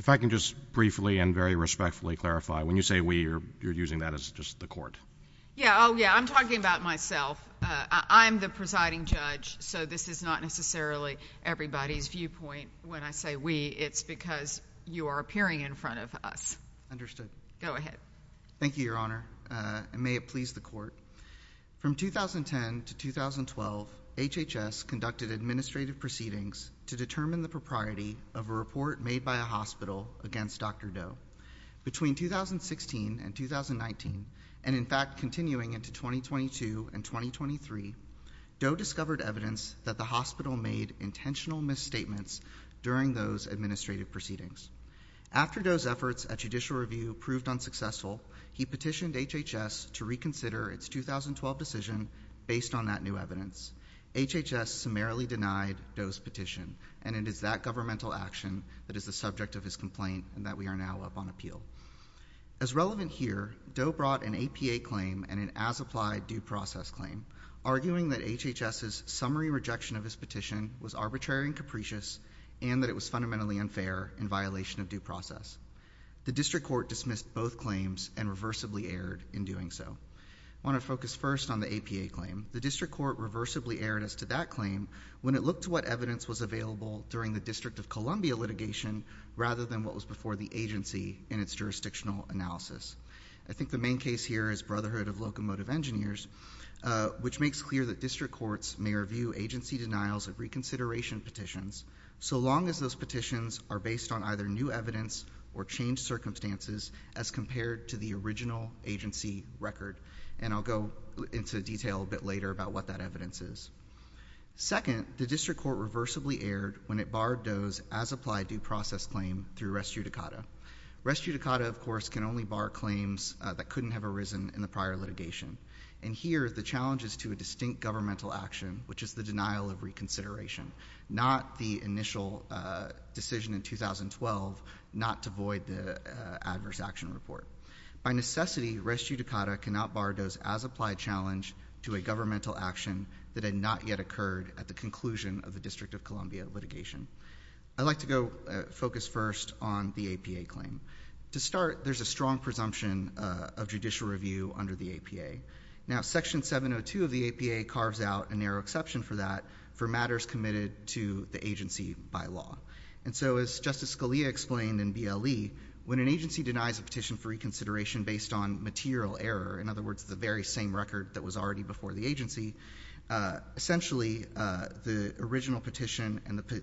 If I can just briefly and very respectfully clarify, when you say we, you're using that as just the court. Yeah, oh yeah, I'm talking about myself. I'm the presiding judge, so this is not necessarily everybody's viewpoint. When I say we, it's because you are appearing in front of us. Understood. Go ahead. Thank you, Your Honor, and may it please the court. From 2010 to 2012, HHS conducted administrative proceedings to determine the propriety of a report made by a hospital against Dr. Doe. Between 2016 and 2019, and in fact continuing into 2022 and 2023, Doe discovered evidence that the hospital made intentional misstatements during those administrative proceedings. After Doe's efforts at judicial review proved unsuccessful, he petitioned HHS to reconsider its 2012 decision based on that new evidence. HHS summarily denied Doe's petition, and it is that governmental action that is the subject of his complaint and that we are now up on appeal. As relevant here, Doe brought an APA claim and an as-applied due process claim, arguing that HHS's summary rejection of his petition was arbitrary and capricious and that it was fundamentally unfair in violation of due process. The district court dismissed both claims and reversibly erred in doing so. I want to focus first on the APA claim. The district court reversibly erred as to that claim when it looked to what evidence was available during the District of Columbia litigation rather than what was before the agency in its jurisdictional analysis. I think the main case here is Brotherhood of Locomotive Engineers, which makes clear that district courts may review agency denials of reconsideration petitions so long as those petitions are based on either new evidence or changed circumstances as compared to the original agency record. And I'll go into detail a bit later about what that evidence is. Second, the district court reversibly erred when it barred Doe's as-applied due process claim through res judicata. Res judicata, of course, can only bar claims that couldn't have arisen in the prior litigation. And here, the challenge is to a distinct governmental action, which is the denial of reconsideration, not the initial decision in 2012 not to void the adverse action report. By necessity, res judicata cannot bar Doe's as-applied challenge to a governmental action that had not yet occurred at the conclusion of the District of Columbia litigation. I'd like to go focus first on the APA claim. To start, there's a strong presumption of judicial review under the APA. Now, Section 702 of the APA carves out a narrow exception for that for matters committed to the agency by law. And so, as Justice Scalia explained in BLE, when an agency denies a petition for reconsideration based on material error, in other words, the very same record that was already before the agency, essentially, the original petition and the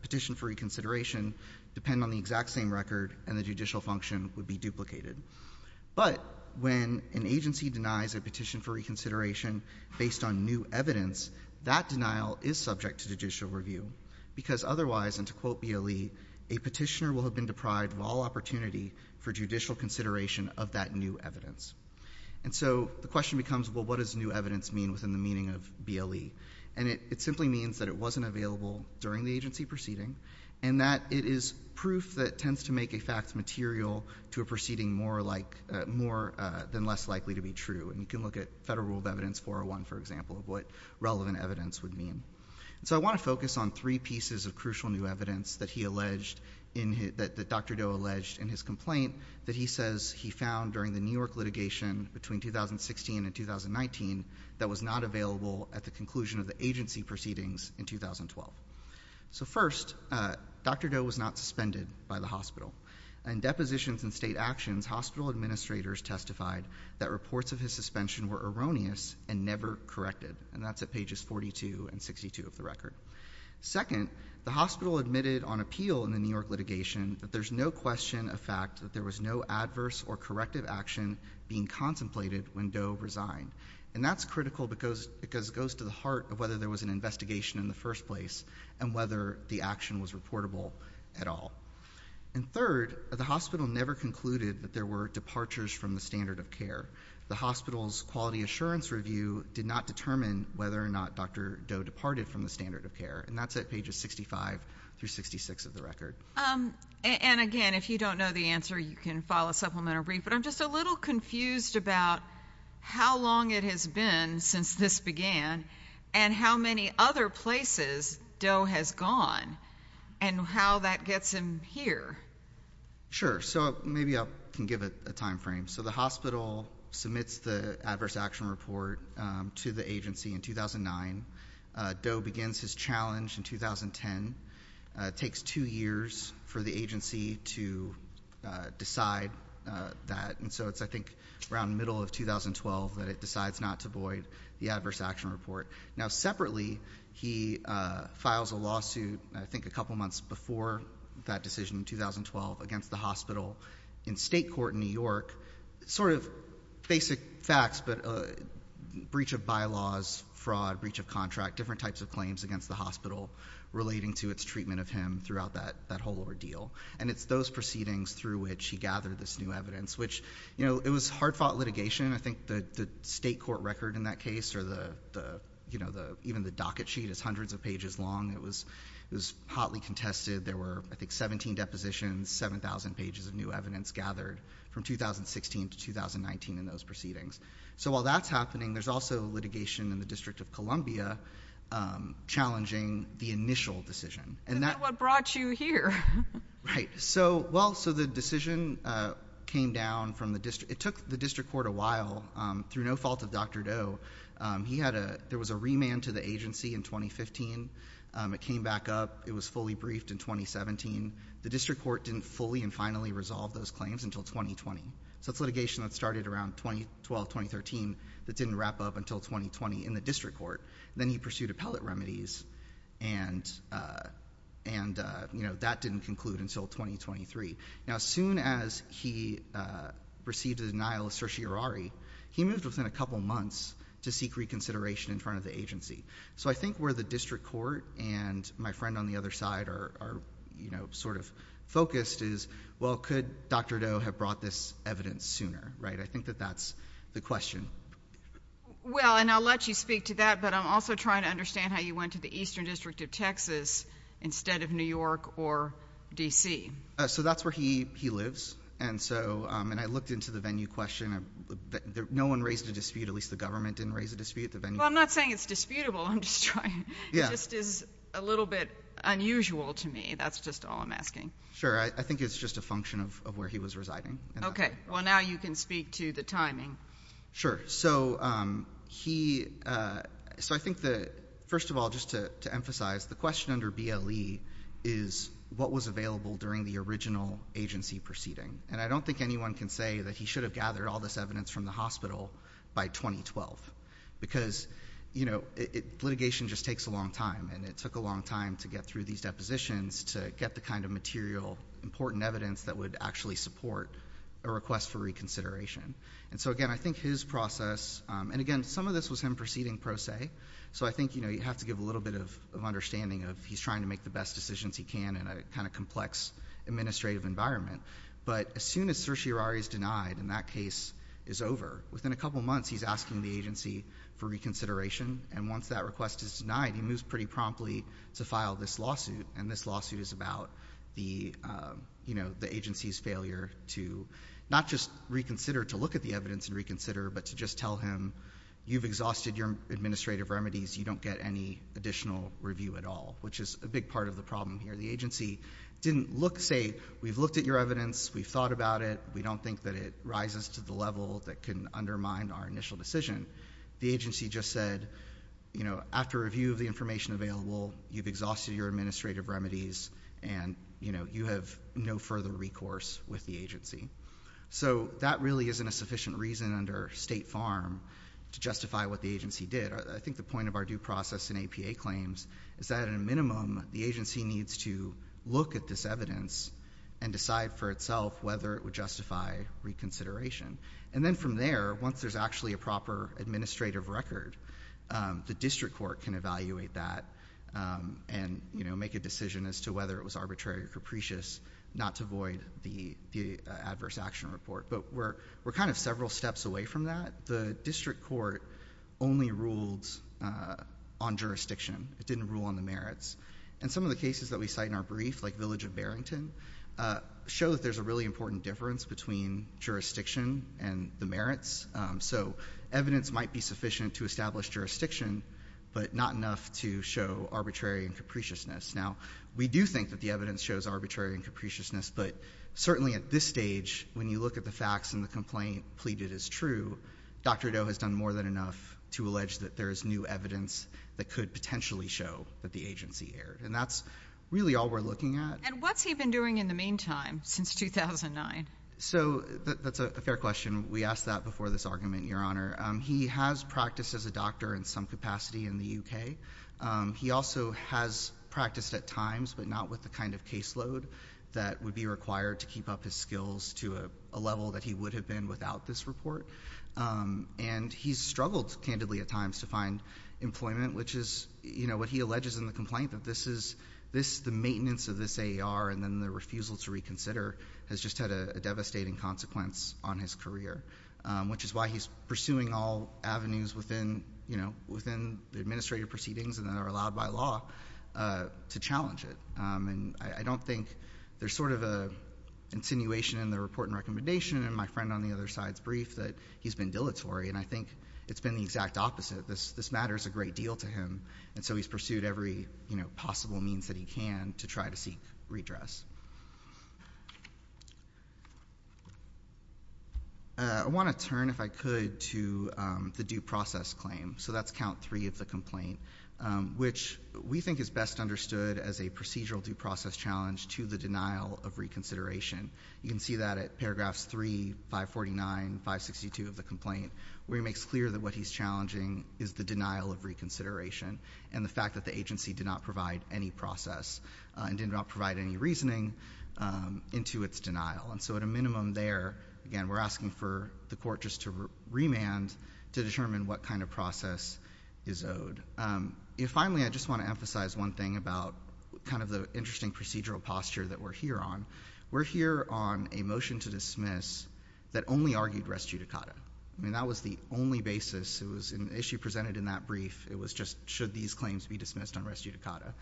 petition for reconsideration depend on the exact same record, and the judicial function would be duplicated. But when an agency denies a petition for reconsideration based on new evidence, that denial is subject to judicial review, because otherwise, and to quote BLE, a petitioner will have been deprived of all opportunity for judicial consideration of that new evidence. And so the question becomes, well, what does new evidence mean within the meaning of BLE? And it simply means that it wasn't available during the agency proceeding, and that it is proof that tends to make a fact material to a proceeding more than less likely to be true. And you can look at Federal Rule of Evidence 401, for example, of what relevant evidence would mean. And so I want to focus on three pieces of crucial new evidence that Dr. Doe alleged in his complaint that he says he found during the New York litigation between 2016 and 2019 that was not available at the conclusion of the agency proceedings in 2012. So first, Dr. Doe was not suspended by the hospital. In depositions and state actions, hospital administrators testified that reports of his suspension were erroneous and never corrected. And that's at pages 42 and 62 of the record. Second, the hospital admitted on appeal in the New York litigation that there's no question of fact that there was no adverse or corrective action being contemplated when Doe resigned. And that's critical because it goes to the heart of whether there was an investigation in the first place and whether the action was reportable at all. And third, the hospital never concluded that there were departures from the standard of care. The hospital's quality assurance review did not determine whether or not Dr. Doe departed from the standard of care. And that's at pages 65 through 66 of the record. And, again, if you don't know the answer, you can file a supplemental brief. But I'm just a little confused about how long it has been since this began and how many other places Doe has gone and how that gets him here. Sure. So maybe I can give a time frame. So the hospital submits the adverse action report to the agency in 2009. Doe begins his challenge in 2010. It takes two years for the agency to decide that. And so it's, I think, around the middle of 2012 that it decides not to void the adverse action report. Now, separately, he files a lawsuit I think a couple months before that decision in 2012 against the hospital in state court in New York, sort of basic facts, but breach of bylaws, fraud, breach of contract, different types of claims against the hospital relating to its treatment of him throughout that whole ordeal. And it's those proceedings through which he gathered this new evidence, which, you know, it was hard-fought litigation. I think the state court record in that case or even the docket sheet is hundreds of pages long. It was hotly contested. There were, I think, 17 depositions, 7,000 pages of new evidence gathered from 2016 to 2019 in those proceedings. So while that's happening, there's also litigation in the District of Columbia challenging the initial decision. And then what brought you here? Right. So, well, so the decision came down from the district. It took the district court a while through no fault of Dr. Doe. He had a ‑‑ there was a remand to the agency in 2015. It came back up. It was fully briefed in 2017. The district court didn't fully and finally resolve those claims until 2020. So it's litigation that started around 2012, 2013 that didn't wrap up until 2020 in the district court. Then he pursued appellate remedies, and, you know, that didn't conclude until 2023. Now, as soon as he received a denial of certiorari, he moved within a couple months to seek reconsideration in front of the agency. So I think where the district court and my friend on the other side are, you know, sort of focused is, well, could Dr. Doe have brought this evidence sooner, right? I think that that's the question. Well, and I'll let you speak to that, but I'm also trying to understand how you went to the Eastern District of Texas instead of New York or D.C. So that's where he lives. And so ‑‑ and I looked into the venue question. No one raised a dispute, at least the government didn't raise a dispute at the venue. Well, I'm not saying it's disputable. I'm just trying ‑‑ it just is a little bit unusual to me. That's just all I'm asking. Sure. I think it's just a function of where he was residing. Okay. Well, now you can speak to the timing. Sure. So he ‑‑ so I think the ‑‑ first of all, just to emphasize, the question under BLE is what was available during the original agency proceeding. And I don't think anyone can say that he should have gathered all this evidence from the hospital by 2012 because, you know, litigation just takes a long time, and it took a long time to get through these depositions to get the kind of material, important evidence that would actually support a request for reconsideration. And so, again, I think his process, and, again, some of this was him proceeding pro se, so I think, you know, you have to give a little bit of understanding of he's trying to make the best decisions he can in a kind of complex administrative environment. But as soon as certiorari is denied and that case is over, within a couple months he's asking the agency for reconsideration. And once that request is denied, he moves pretty promptly to file this lawsuit. And this lawsuit is about the agency's failure to not just reconsider, to look at the evidence and reconsider, but to just tell him you've exhausted your administrative remedies, you don't get any additional review at all, which is a big part of the problem here. The agency didn't look, say, we've looked at your evidence, we've thought about it, we don't think that it rises to the level that can undermine our initial decision. The agency just said, you know, after review of the information available, you've exhausted your administrative remedies and, you know, you have no further recourse with the agency. So that really isn't a sufficient reason under State Farm to justify what the agency did. I think the point of our due process and APA claims is that, at a minimum, the agency needs to look at this evidence and decide for itself whether it would justify reconsideration. And then from there, once there's actually a proper administrative record, the district court can evaluate that and, you know, make a decision as to whether it was arbitrary or capricious not to void the adverse action report. But we're kind of several steps away from that. The district court only ruled on jurisdiction. It didn't rule on the merits. And some of the cases that we cite in our brief, like Village of Barrington, show that there's a really important difference between jurisdiction and the merits. So evidence might be sufficient to establish jurisdiction, but not enough to show arbitrary and capriciousness. Now, we do think that the evidence shows arbitrary and capriciousness, but certainly at this stage, when you look at the facts and the complaint pleaded as true, Dr. Doe has done more than enough to allege that there is new evidence that could potentially show that the agency erred. And that's really all we're looking at. And what's he been doing in the meantime since 2009? So that's a fair question. We asked that before this argument, Your Honor. He has practiced as a doctor in some capacity in the U.K. He also has practiced at times, but not with the kind of caseload that would be required to keep up his skills to a level that he would have been without this report. And he's struggled candidly at times to find employment, which is what he alleges in the complaint, that the maintenance of this AER and then the refusal to reconsider has just had a devastating consequence on his career, which is why he's pursuing all avenues within the administrative proceedings that are allowed by law to challenge it. And I don't think there's sort of an insinuation in the report and recommendation and my friend on the other side's brief that he's been dilatory. And I think it's been the exact opposite. This matters a great deal to him. And so he's pursued every possible means that he can to try to seek redress. I want to turn, if I could, to the due process claim. So that's count three of the complaint, which we think is best understood as a procedural due process challenge to the denial of reconsideration. You can see that at paragraphs three, 549, 562 of the complaint, where he makes clear that what he's challenging is the denial of reconsideration and the fact that the agency did not provide any process and did not provide any reasoning into its denial. And so at a minimum there, again, we're asking for the court just to remand to determine what kind of process is owed. Finally, I just want to emphasize one thing about kind of the interesting procedural posture that we're here on. We're here on a motion to dismiss that only argued res judicata. I mean, that was the only basis. It was an issue presented in that brief. It was just should these claims be dismissed on res judicata.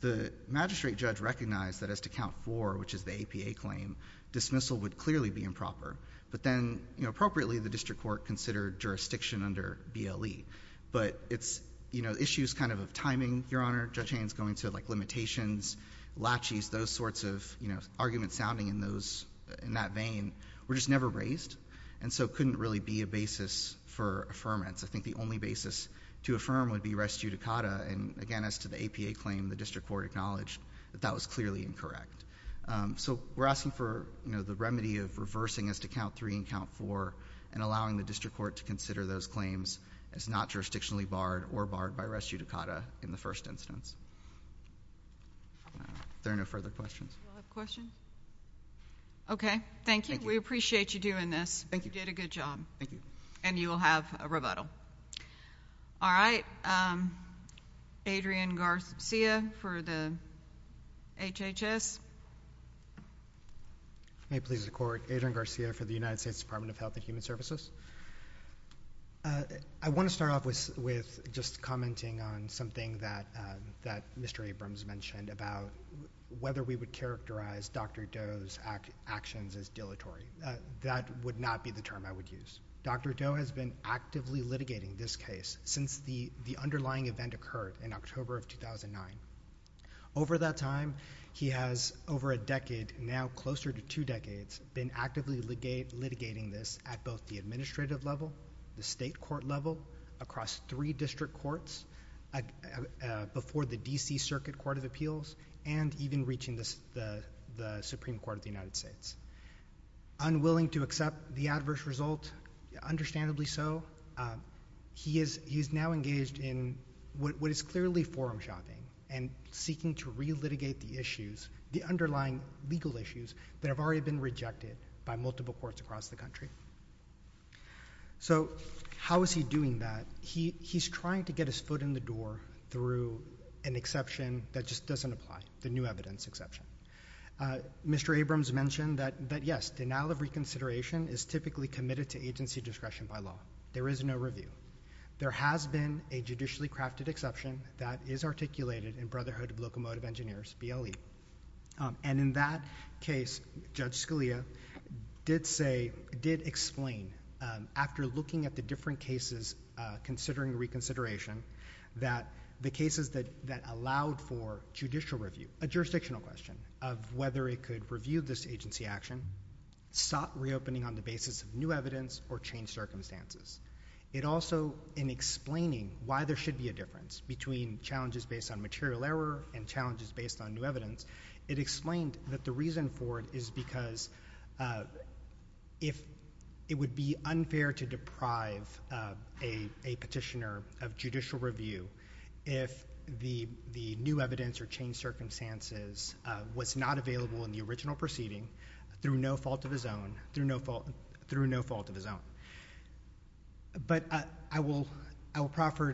The magistrate judge recognized that as to count four, which is the APA claim, dismissal would clearly be improper. But then, you know, appropriately, the district court considered jurisdiction under BLE. But it's, you know, issues kind of of timing, Your Honor. Judge Haynes going to, like, limitations, laches, those sorts of, you know, arguments sounding in that vein were just never raised. And so it couldn't really be a basis for affirmance. I think the only basis to affirm would be res judicata. And, again, as to the APA claim, the district court acknowledged that that was clearly incorrect. So we're asking for, you know, the remedy of reversing as to count three and count four and allowing the district court to consider those claims as not jurisdictionally barred or barred by res judicata in the first instance. If there are no further questions. Do we have a question? Okay. Thank you. We appreciate you doing this. Thank you. You did a good job. Thank you. And you will have a rebuttal. All right. Adrian Garcia for the HHS. May it please the court. Adrian Garcia for the United States Department of Health and Human Services. I want to start off with just commenting on something that Mr. Abrams mentioned about whether we would characterize Dr. Doe's actions as dilatory. That would not be the term I would use. Dr. Doe has been actively litigating this case since the underlying event occurred in October of 2009. Over that time, he has, over a decade, now closer to two decades, been actively litigating this at both the administrative level, the state court level, across three district courts, before the D.C. Circuit Court of Appeals, and even reaching the Supreme Court of the United States. Unwilling to accept the adverse result, understandably so, he is now engaged in what is clearly forum shopping and seeking to relitigate the issues, the underlying legal issues, that have already been rejected by multiple courts across the country. So how is he doing that? He's trying to get his foot in the door through an exception that just doesn't apply, the new evidence exception. Mr. Abrams mentioned that, yes, denial of reconsideration is typically committed to agency discretion by law. There is no review. There has been a judicially crafted exception that is articulated in Brotherhood of Locomotive Engineers, BLE. And in that case, Judge Scalia did say, did explain, after looking at the different cases considering reconsideration, that the cases that allowed for judicial review, a jurisdictional question of whether it could review this agency action, sought reopening on the basis of new evidence or changed circumstances. It also, in explaining why there should be a difference between challenges based on material error and challenges based on new evidence, it explained that the reason for it is because it would be unfair to deprive a petitioner of judicial review if the new evidence or changed circumstances was not available in the original proceeding through no fault of his own. But I will proffer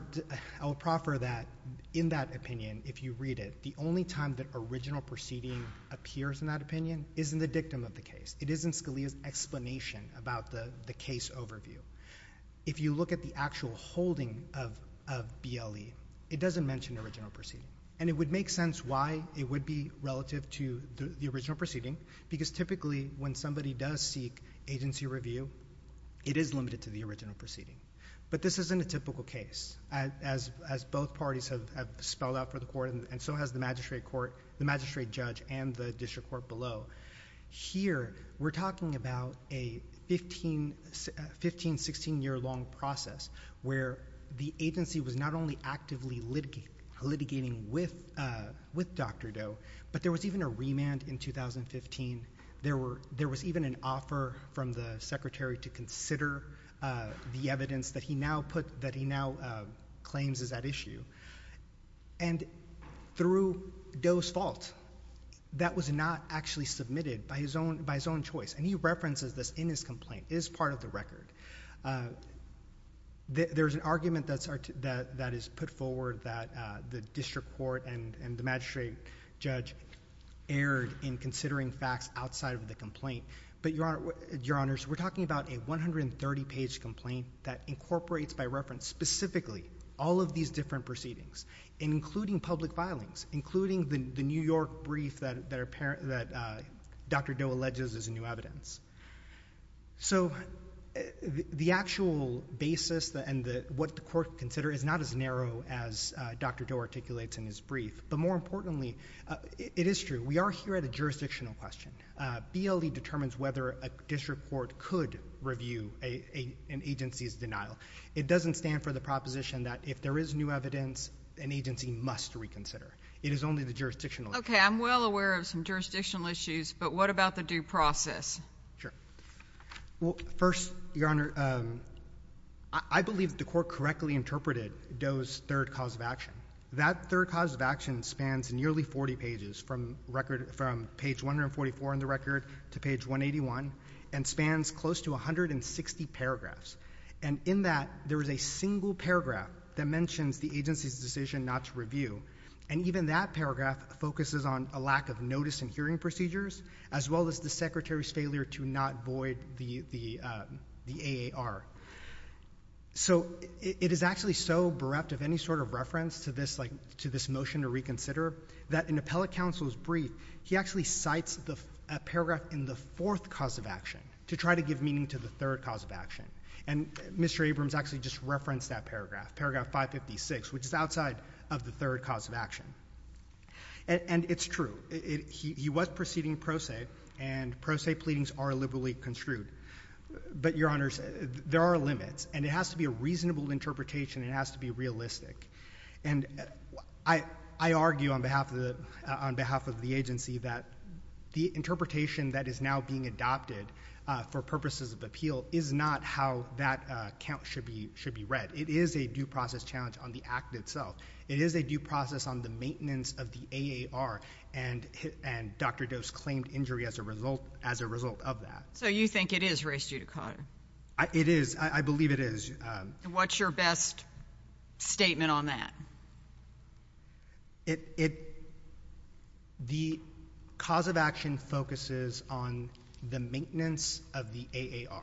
that, in that opinion, if you read it, the only time that original proceeding appears in that opinion is in the dictum of the case. It is in Scalia's explanation about the case overview. If you look at the actual holding of BLE, it doesn't mention original proceeding. And it would make sense why it would be relative to the original proceeding, because typically when somebody does seek agency review, it is limited to the original proceeding. But this isn't a typical case, as both parties have spelled out for the court, and so has the magistrate judge and the district court below. Here, we're talking about a 15, 16-year-long process, where the agency was not only actively litigating with Dr. Doe, but there was even a remand in 2015. There was even an offer from the secretary to consider the evidence that he now claims is at issue. And through Doe's fault, that was not actually submitted by his own choice. And he references this in his complaint. It is part of the record. There's an argument that is put forward that the district court and the magistrate judge erred in considering facts outside of the complaint. But, Your Honors, we're talking about a 130-page complaint that incorporates by reference specifically all of these different proceedings, including public filings, including the New York brief that Dr. Doe alleges is a new evidence. So the actual basis and what the court considers is not as narrow as Dr. Doe articulates in his brief. But more importantly, it is true. We are here at a jurisdictional question. BLE determines whether a district court could review an agency's denial. It doesn't stand for the proposition that if there is new evidence, an agency must reconsider. It is only the jurisdictional issue. Okay, I'm well aware of some jurisdictional issues, but what about the due process? Sure. Well, first, Your Honor, I believe the court correctly interpreted Doe's third cause of action. That third cause of action spans nearly 40 pages from page 144 in the record to page 181 and spans close to 160 paragraphs. And in that, there is a single paragraph that mentions the agency's decision not to review. And even that paragraph focuses on a lack of notice and hearing procedures as well as the Secretary's failure to not void the AAR. So it is actually so bereft of any sort of reference to this motion to reconsider that in Appellate Counsel's brief, he actually cites a paragraph in the fourth cause of action to try to give meaning to the third cause of action. And Mr. Abrams actually just referenced that paragraph, paragraph 556, which is outside of the third cause of action. And it's true. He was proceeding pro se, and pro se pleadings are liberally construed. But, Your Honors, there are limits, and it has to be a reasonable interpretation. It has to be realistic. And I argue on behalf of the agency that the interpretation that is now being adopted for purposes of appeal is not how that count should be read. It is a due process challenge on the act itself. It is a due process on the maintenance of the AAR, and Dr. Doe's claimed injury as a result of that. So you think it is race due to Cotter? It is. I believe it is. And what's your best statement on that? The cause of action focuses on the maintenance of the AAR.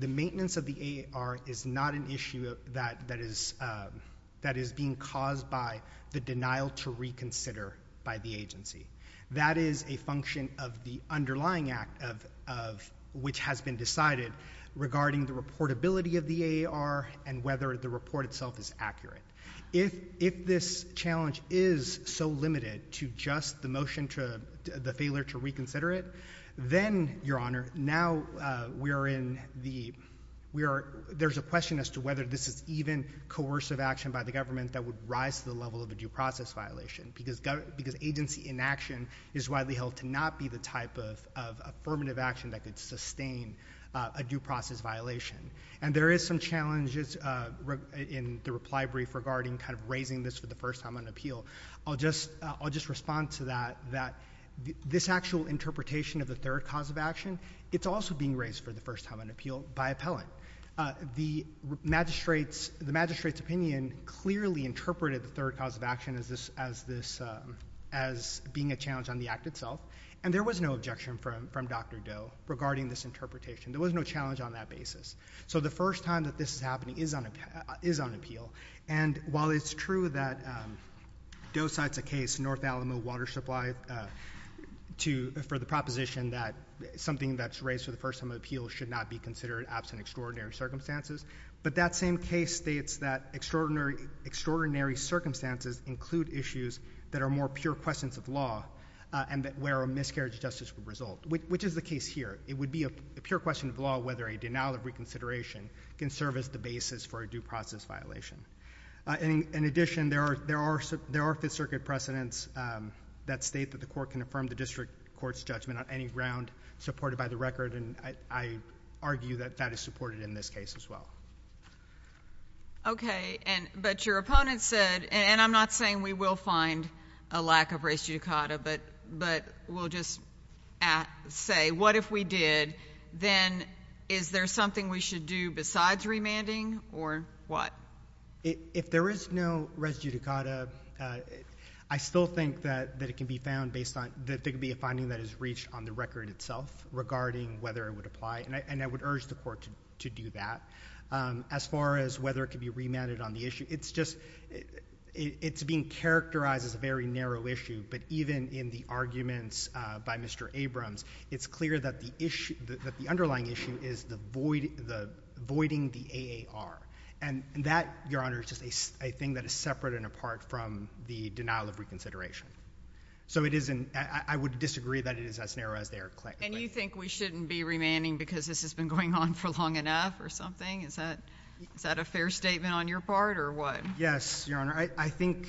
The maintenance of the AAR is not an issue that is being caused by the denial to reconsider by the agency. That is a function of the underlying act of which has been decided regarding the reportability of the AAR and whether the report itself is accurate. If this challenge is so limited to just the motion to the failure to reconsider it, then, Your Honor, now we are in the, there's a question as to whether this is even coercive action by the government that would rise to the level of a due process violation. Because agency inaction is widely held to not be the type of affirmative action that could sustain a due process violation. And there is some challenges in the reply brief regarding kind of raising this for the first time on appeal. I'll just respond to that, that this actual interpretation of the third cause of action, it's also being raised for the first time on appeal by appellant. The magistrate's opinion clearly interpreted the third cause of action as being a challenge on the act itself. And there was no objection from Dr. Doe regarding this interpretation. There was no challenge on that basis. So the first time that this is happening is on appeal. And while it's true that Doe cites a case, North Alamo Water Supply, for the proposition that something that's raised for the first time on appeal should not be considered absent extraordinary circumstances. But that same case states that extraordinary circumstances include issues that are more pure questions of law and where a miscarriage of justice would result, which is the case here. It would be a pure question of law whether a denial of reconsideration can serve as the basis for a due process violation. In addition, there are Fifth Circuit precedents that state that the court can affirm the district court's judgment on any ground supported by the record, and I argue that that is supported in this case as well. Okay. But your opponent said, and I'm not saying we will find a lack of res judicata, but we'll just say what if we did, then is there something we should do besides remanding or what? If there is no res judicata, I still think that it can be found based on, that there could be a finding that is reached on the record itself regarding whether it would apply. And I would urge the court to do that. As far as whether it could be remanded on the issue, it's just, it's being characterized as a very narrow issue. But even in the arguments by Mr. Abrams, it's clear that the underlying issue is the voiding the AAR. And that, Your Honor, is just a thing that is separate and apart from the denial of reconsideration. So it isn't, I would disagree that it is as narrow as they are claiming. And you think we shouldn't be remanding because this has been going on for long enough or something? Is that a fair statement on your part or what? Yes, Your Honor. I think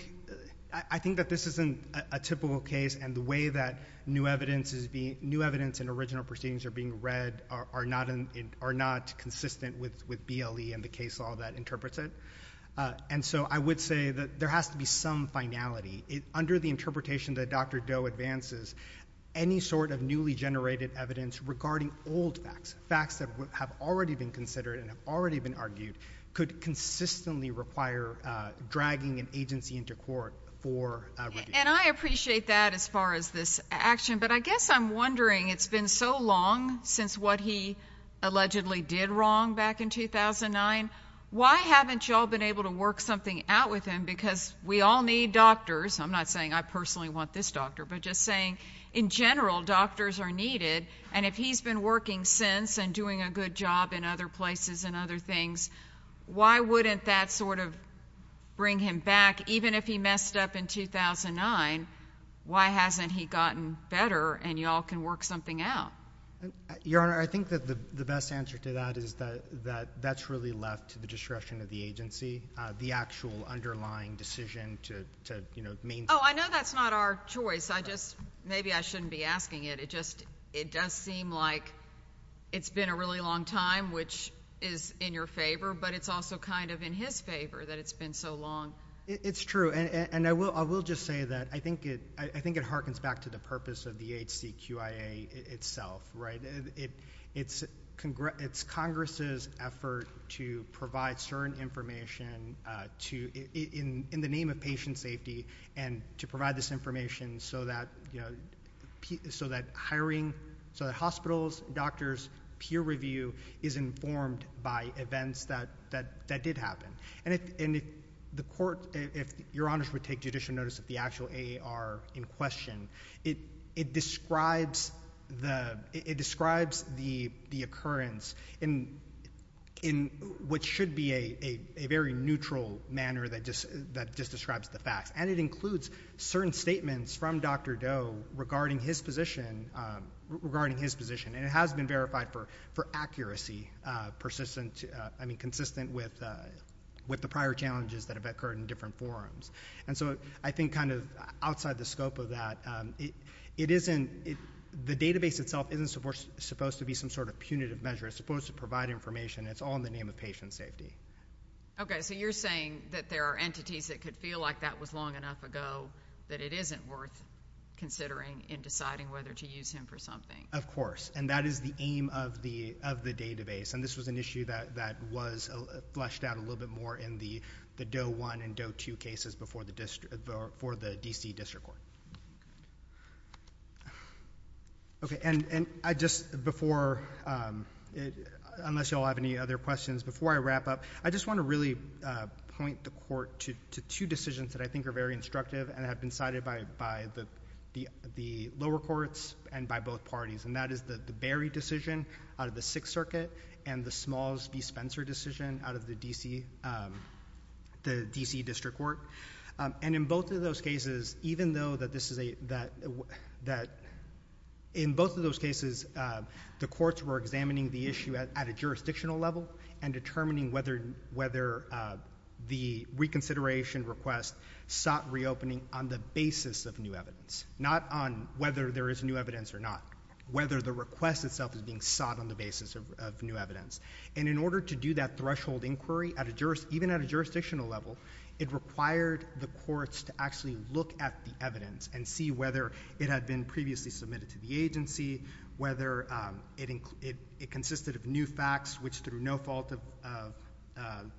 that this isn't a typical case and the way that new evidence and original proceedings are being read are not consistent with BLE and the case law that interprets it. And so I would say that there has to be some finality. Under the interpretation that Dr. Doe advances, any sort of newly generated evidence regarding old facts, facts that have already been considered and have already been argued, could consistently require dragging an agency into court for review. And I appreciate that as far as this action. But I guess I'm wondering, it's been so long since what he allegedly did wrong back in 2009. Why haven't you all been able to work something out with him? Because we all need doctors. I'm not saying I personally want this doctor, but just saying, in general, doctors are needed. And if he's been working since and doing a good job in other places and other things, why wouldn't that sort of bring him back, even if he messed up in 2009? Why hasn't he gotten better and you all can work something out? Your Honor, I think that the best answer to that is that that's really left to the discretion of the agency, the actual underlying decision to, you know, maintain. Oh, I know that's not our choice. I just, maybe I shouldn't be asking it. It does seem like it's been a really long time, which is in your favor, but it's also kind of in his favor that it's been so long. It's true. And I will just say that I think it harkens back to the purpose of the HCQIA itself, right? It's Congress's effort to provide certain information in the name of patient safety and to provide this information so that, you know, so that hiring, so that hospitals, doctors, peer review is informed by events that did happen. And if the court, if Your Honors would take judicial notice of the actual AAR in question, it describes the occurrence in what should be a very neutral manner that just describes the facts. And it includes certain statements from Dr. Doe regarding his position. And it has been verified for accuracy, persistent, I mean, consistent with the prior challenges that have occurred in different forums. And so I think kind of outside the scope of that, it isn't, the database itself isn't supposed to be some sort of punitive measure. It's supposed to provide information. It's all in the name of patient safety. Okay. So you're saying that there are entities that could feel like that was long enough ago that it isn't worth considering in deciding whether to use him for something. Of course. And that is the aim of the database. And this was an issue that was fleshed out a little bit more in the Doe 1 and Doe 2 cases for the D.C. District Court. Okay. And I just, before, unless you all have any other questions, before I wrap up, I just want to really point the Court to two decisions that I think are very instructive and have been cited by the lower courts and by both parties. And that is the Berry decision out of the Sixth Circuit and the Smalls v. Spencer decision out of the D.C. District Court. And in both of those cases, even though that this is a, that in both of those cases, the courts were examining the issue at a jurisdictional level and determining whether the reconsideration request sought reopening on the basis of new evidence, not on whether there is new evidence or not, whether the request itself is being sought on the basis of new evidence. And in order to do that threshold inquiry, even at a jurisdictional level, it required the courts to actually look at the evidence and see whether it had been previously submitted to the agency, whether it consisted of new facts, which through no fault of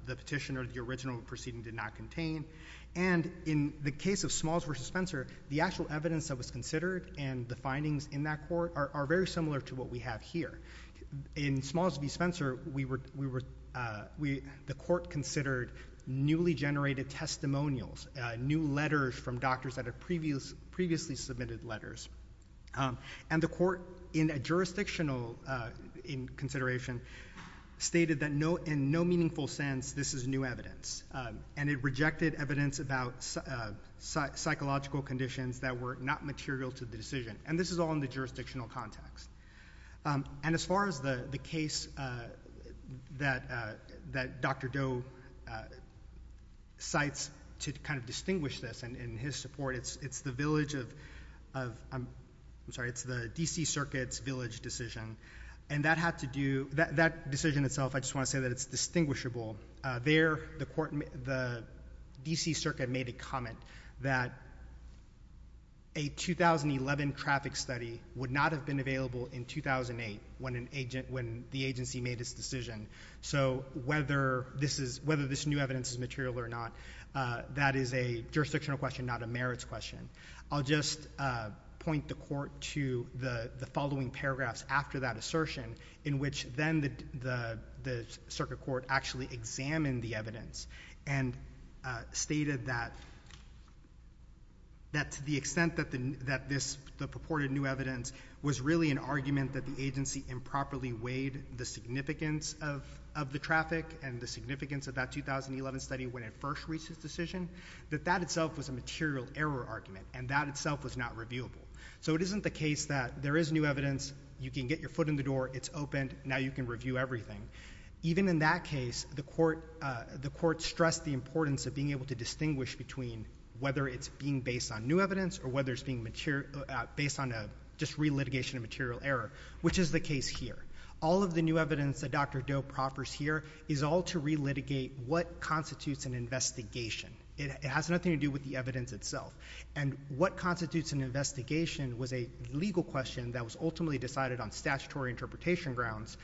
the petition or the original proceeding did not contain. And in the case of Smalls v. Spencer, the actual evidence that was considered and the findings in that court are very similar to what we have here. In Smalls v. Spencer, we were, we, the court considered newly generated testimonials, new letters from doctors that had previously submitted letters. And the court in a jurisdictional consideration stated that no, in no meaningful sense, this is new evidence. And it rejected evidence about psychological conditions that were not material to the decision. And this is all in the jurisdictional context. And as far as the case that Dr. Doe cites to kind of distinguish this in his support, it's the village of, I'm sorry, it's the D.C. Circuit's village decision. And that had to do, that decision itself, I just want to say that it's distinguishable. There, the court, the D.C. Circuit made a comment that a 2011 traffic study would not have been available in 2008 when an agent, when the agency made its decision. So whether this is, whether this new evidence is material or not, that is a jurisdictional question, not a merits question. I'll just point the court to the following paragraphs after that assertion in which then the circuit court actually examined the evidence and stated that to the extent that the purported new evidence was really an argument that the agency improperly weighed the significance of the traffic and the significance of that 2011 study when it first reached its decision, that that itself was a material error argument, and that itself was not reviewable. So it isn't the case that there is new evidence, you can get your foot in the door, it's opened, now you can review everything. Even in that case, the court stressed the importance of being able to distinguish between whether it's being based on new evidence or whether it's being material, based on just relitigation of material error, which is the case here. All of the new evidence that Dr. Doe proffers here is all to relitigate what constitutes an investigation. It has nothing to do with the evidence itself. And what constitutes an investigation was a legal question that was ultimately decided on statutory interpretation grounds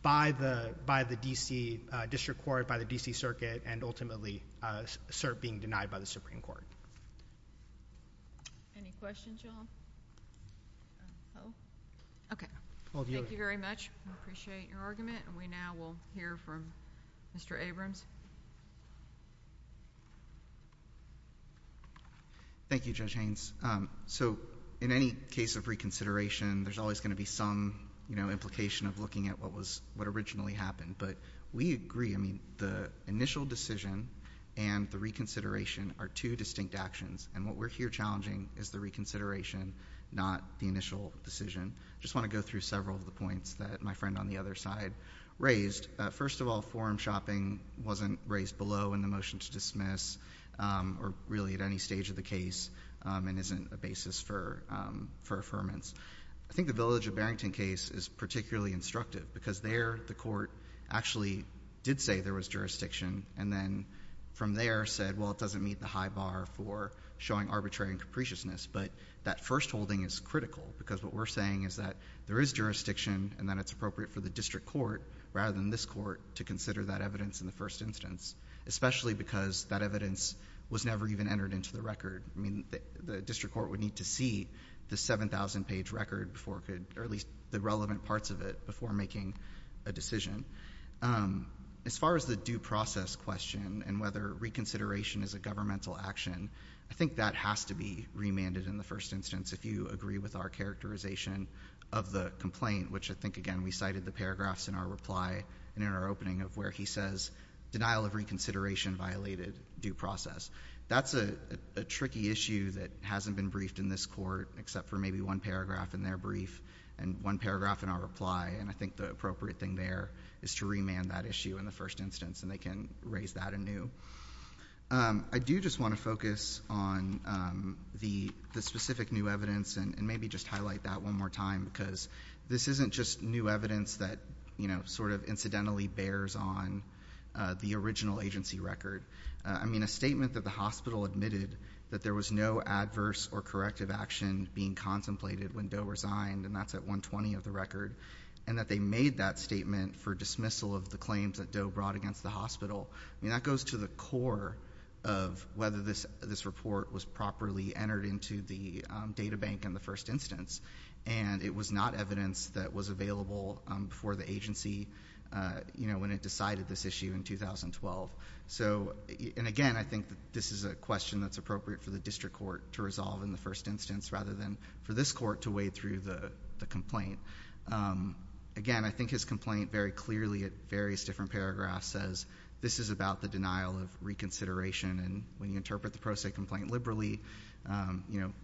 by the D.C. District Court, by the D.C. Circuit, and ultimately being denied by the Supreme Court. Any questions, y'all? Okay, thank you very much. We appreciate your argument, and we now will hear from Mr. Abrams. Thank you, Judge Haynes. So in any case of reconsideration, there's always going to be some implication of looking at what originally happened, but we agree the initial decision and the reconsideration are two distinct actions, and what we're here challenging is the reconsideration, not the initial decision. I just want to go through several of the points that my friend on the other side raised. First of all, forum shopping wasn't raised below in the motion to dismiss or really at any stage of the case and isn't a basis for affirmance. I think the Village of Barrington case is particularly instructive because there the court actually did say there was jurisdiction and then from there said, well, it doesn't meet the high bar for showing arbitrary and capriciousness, but that firstholding is critical because what we're saying is that there is jurisdiction and that it's appropriate for the district court rather than this court to consider that evidence in the first instance, especially because that evidence was never even entered into the record. I mean, the district court would need to see the 7,000-page record or at least the relevant parts of it before making a decision. As far as the due process question and whether reconsideration is a governmental action, I think that has to be remanded in the first instance, if you agree with our characterization of the complaint, which I think, again, we cited the paragraphs in our reply and in our opening of where he says denial of reconsideration violated due process. That's a tricky issue that hasn't been briefed in this court except for maybe one paragraph in their brief and one paragraph in our reply, and I think the appropriate thing there is to remand that issue in the first instance and they can raise that anew. I do just want to focus on the specific new evidence and maybe just highlight that one more time because this isn't just new evidence that sort of incidentally bears on the original agency record. I mean, a statement that the hospital admitted that there was no adverse or corrective action being contemplated when Doe resigned, and that's at 120 of the record, and that they made that statement for dismissal of the claims that Doe brought against the hospital, I mean, that goes to the core of whether this report was properly entered into the data bank in the first instance, and it was not evidence that was available for the agency when it decided this issue in 2012. And again, I think this is a question that's appropriate for the district court to resolve in the first instance rather than for this court to wade through the complaint. Again, I think his complaint very clearly at various different paragraphs says this is about the denial of reconsideration, and when you interpret the pro se complaint liberally,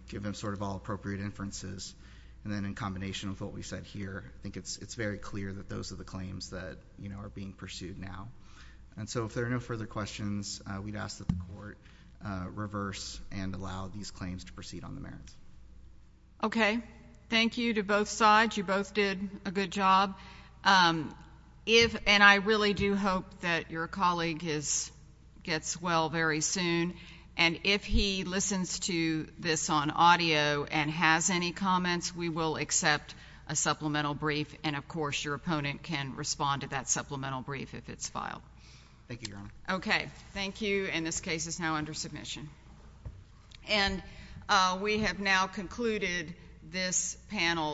give them sort of all appropriate inferences, and then in combination with what we said here, I think it's very clear that those are the claims that are being pursued now. And so if there are no further questions, we'd ask that the court reverse and allow these claims to proceed on the merits. Okay. Thank you to both sides. You both did a good job. And I really do hope that your colleague gets well very soon, and if he listens to this on audio and has any comments, we will accept a supplemental brief, and of course your opponent can respond to that supplemental brief if it's filed. Thank you, Your Honor. Okay. Thank you. And this case is now under submission. And we have now concluded this panel's hearing.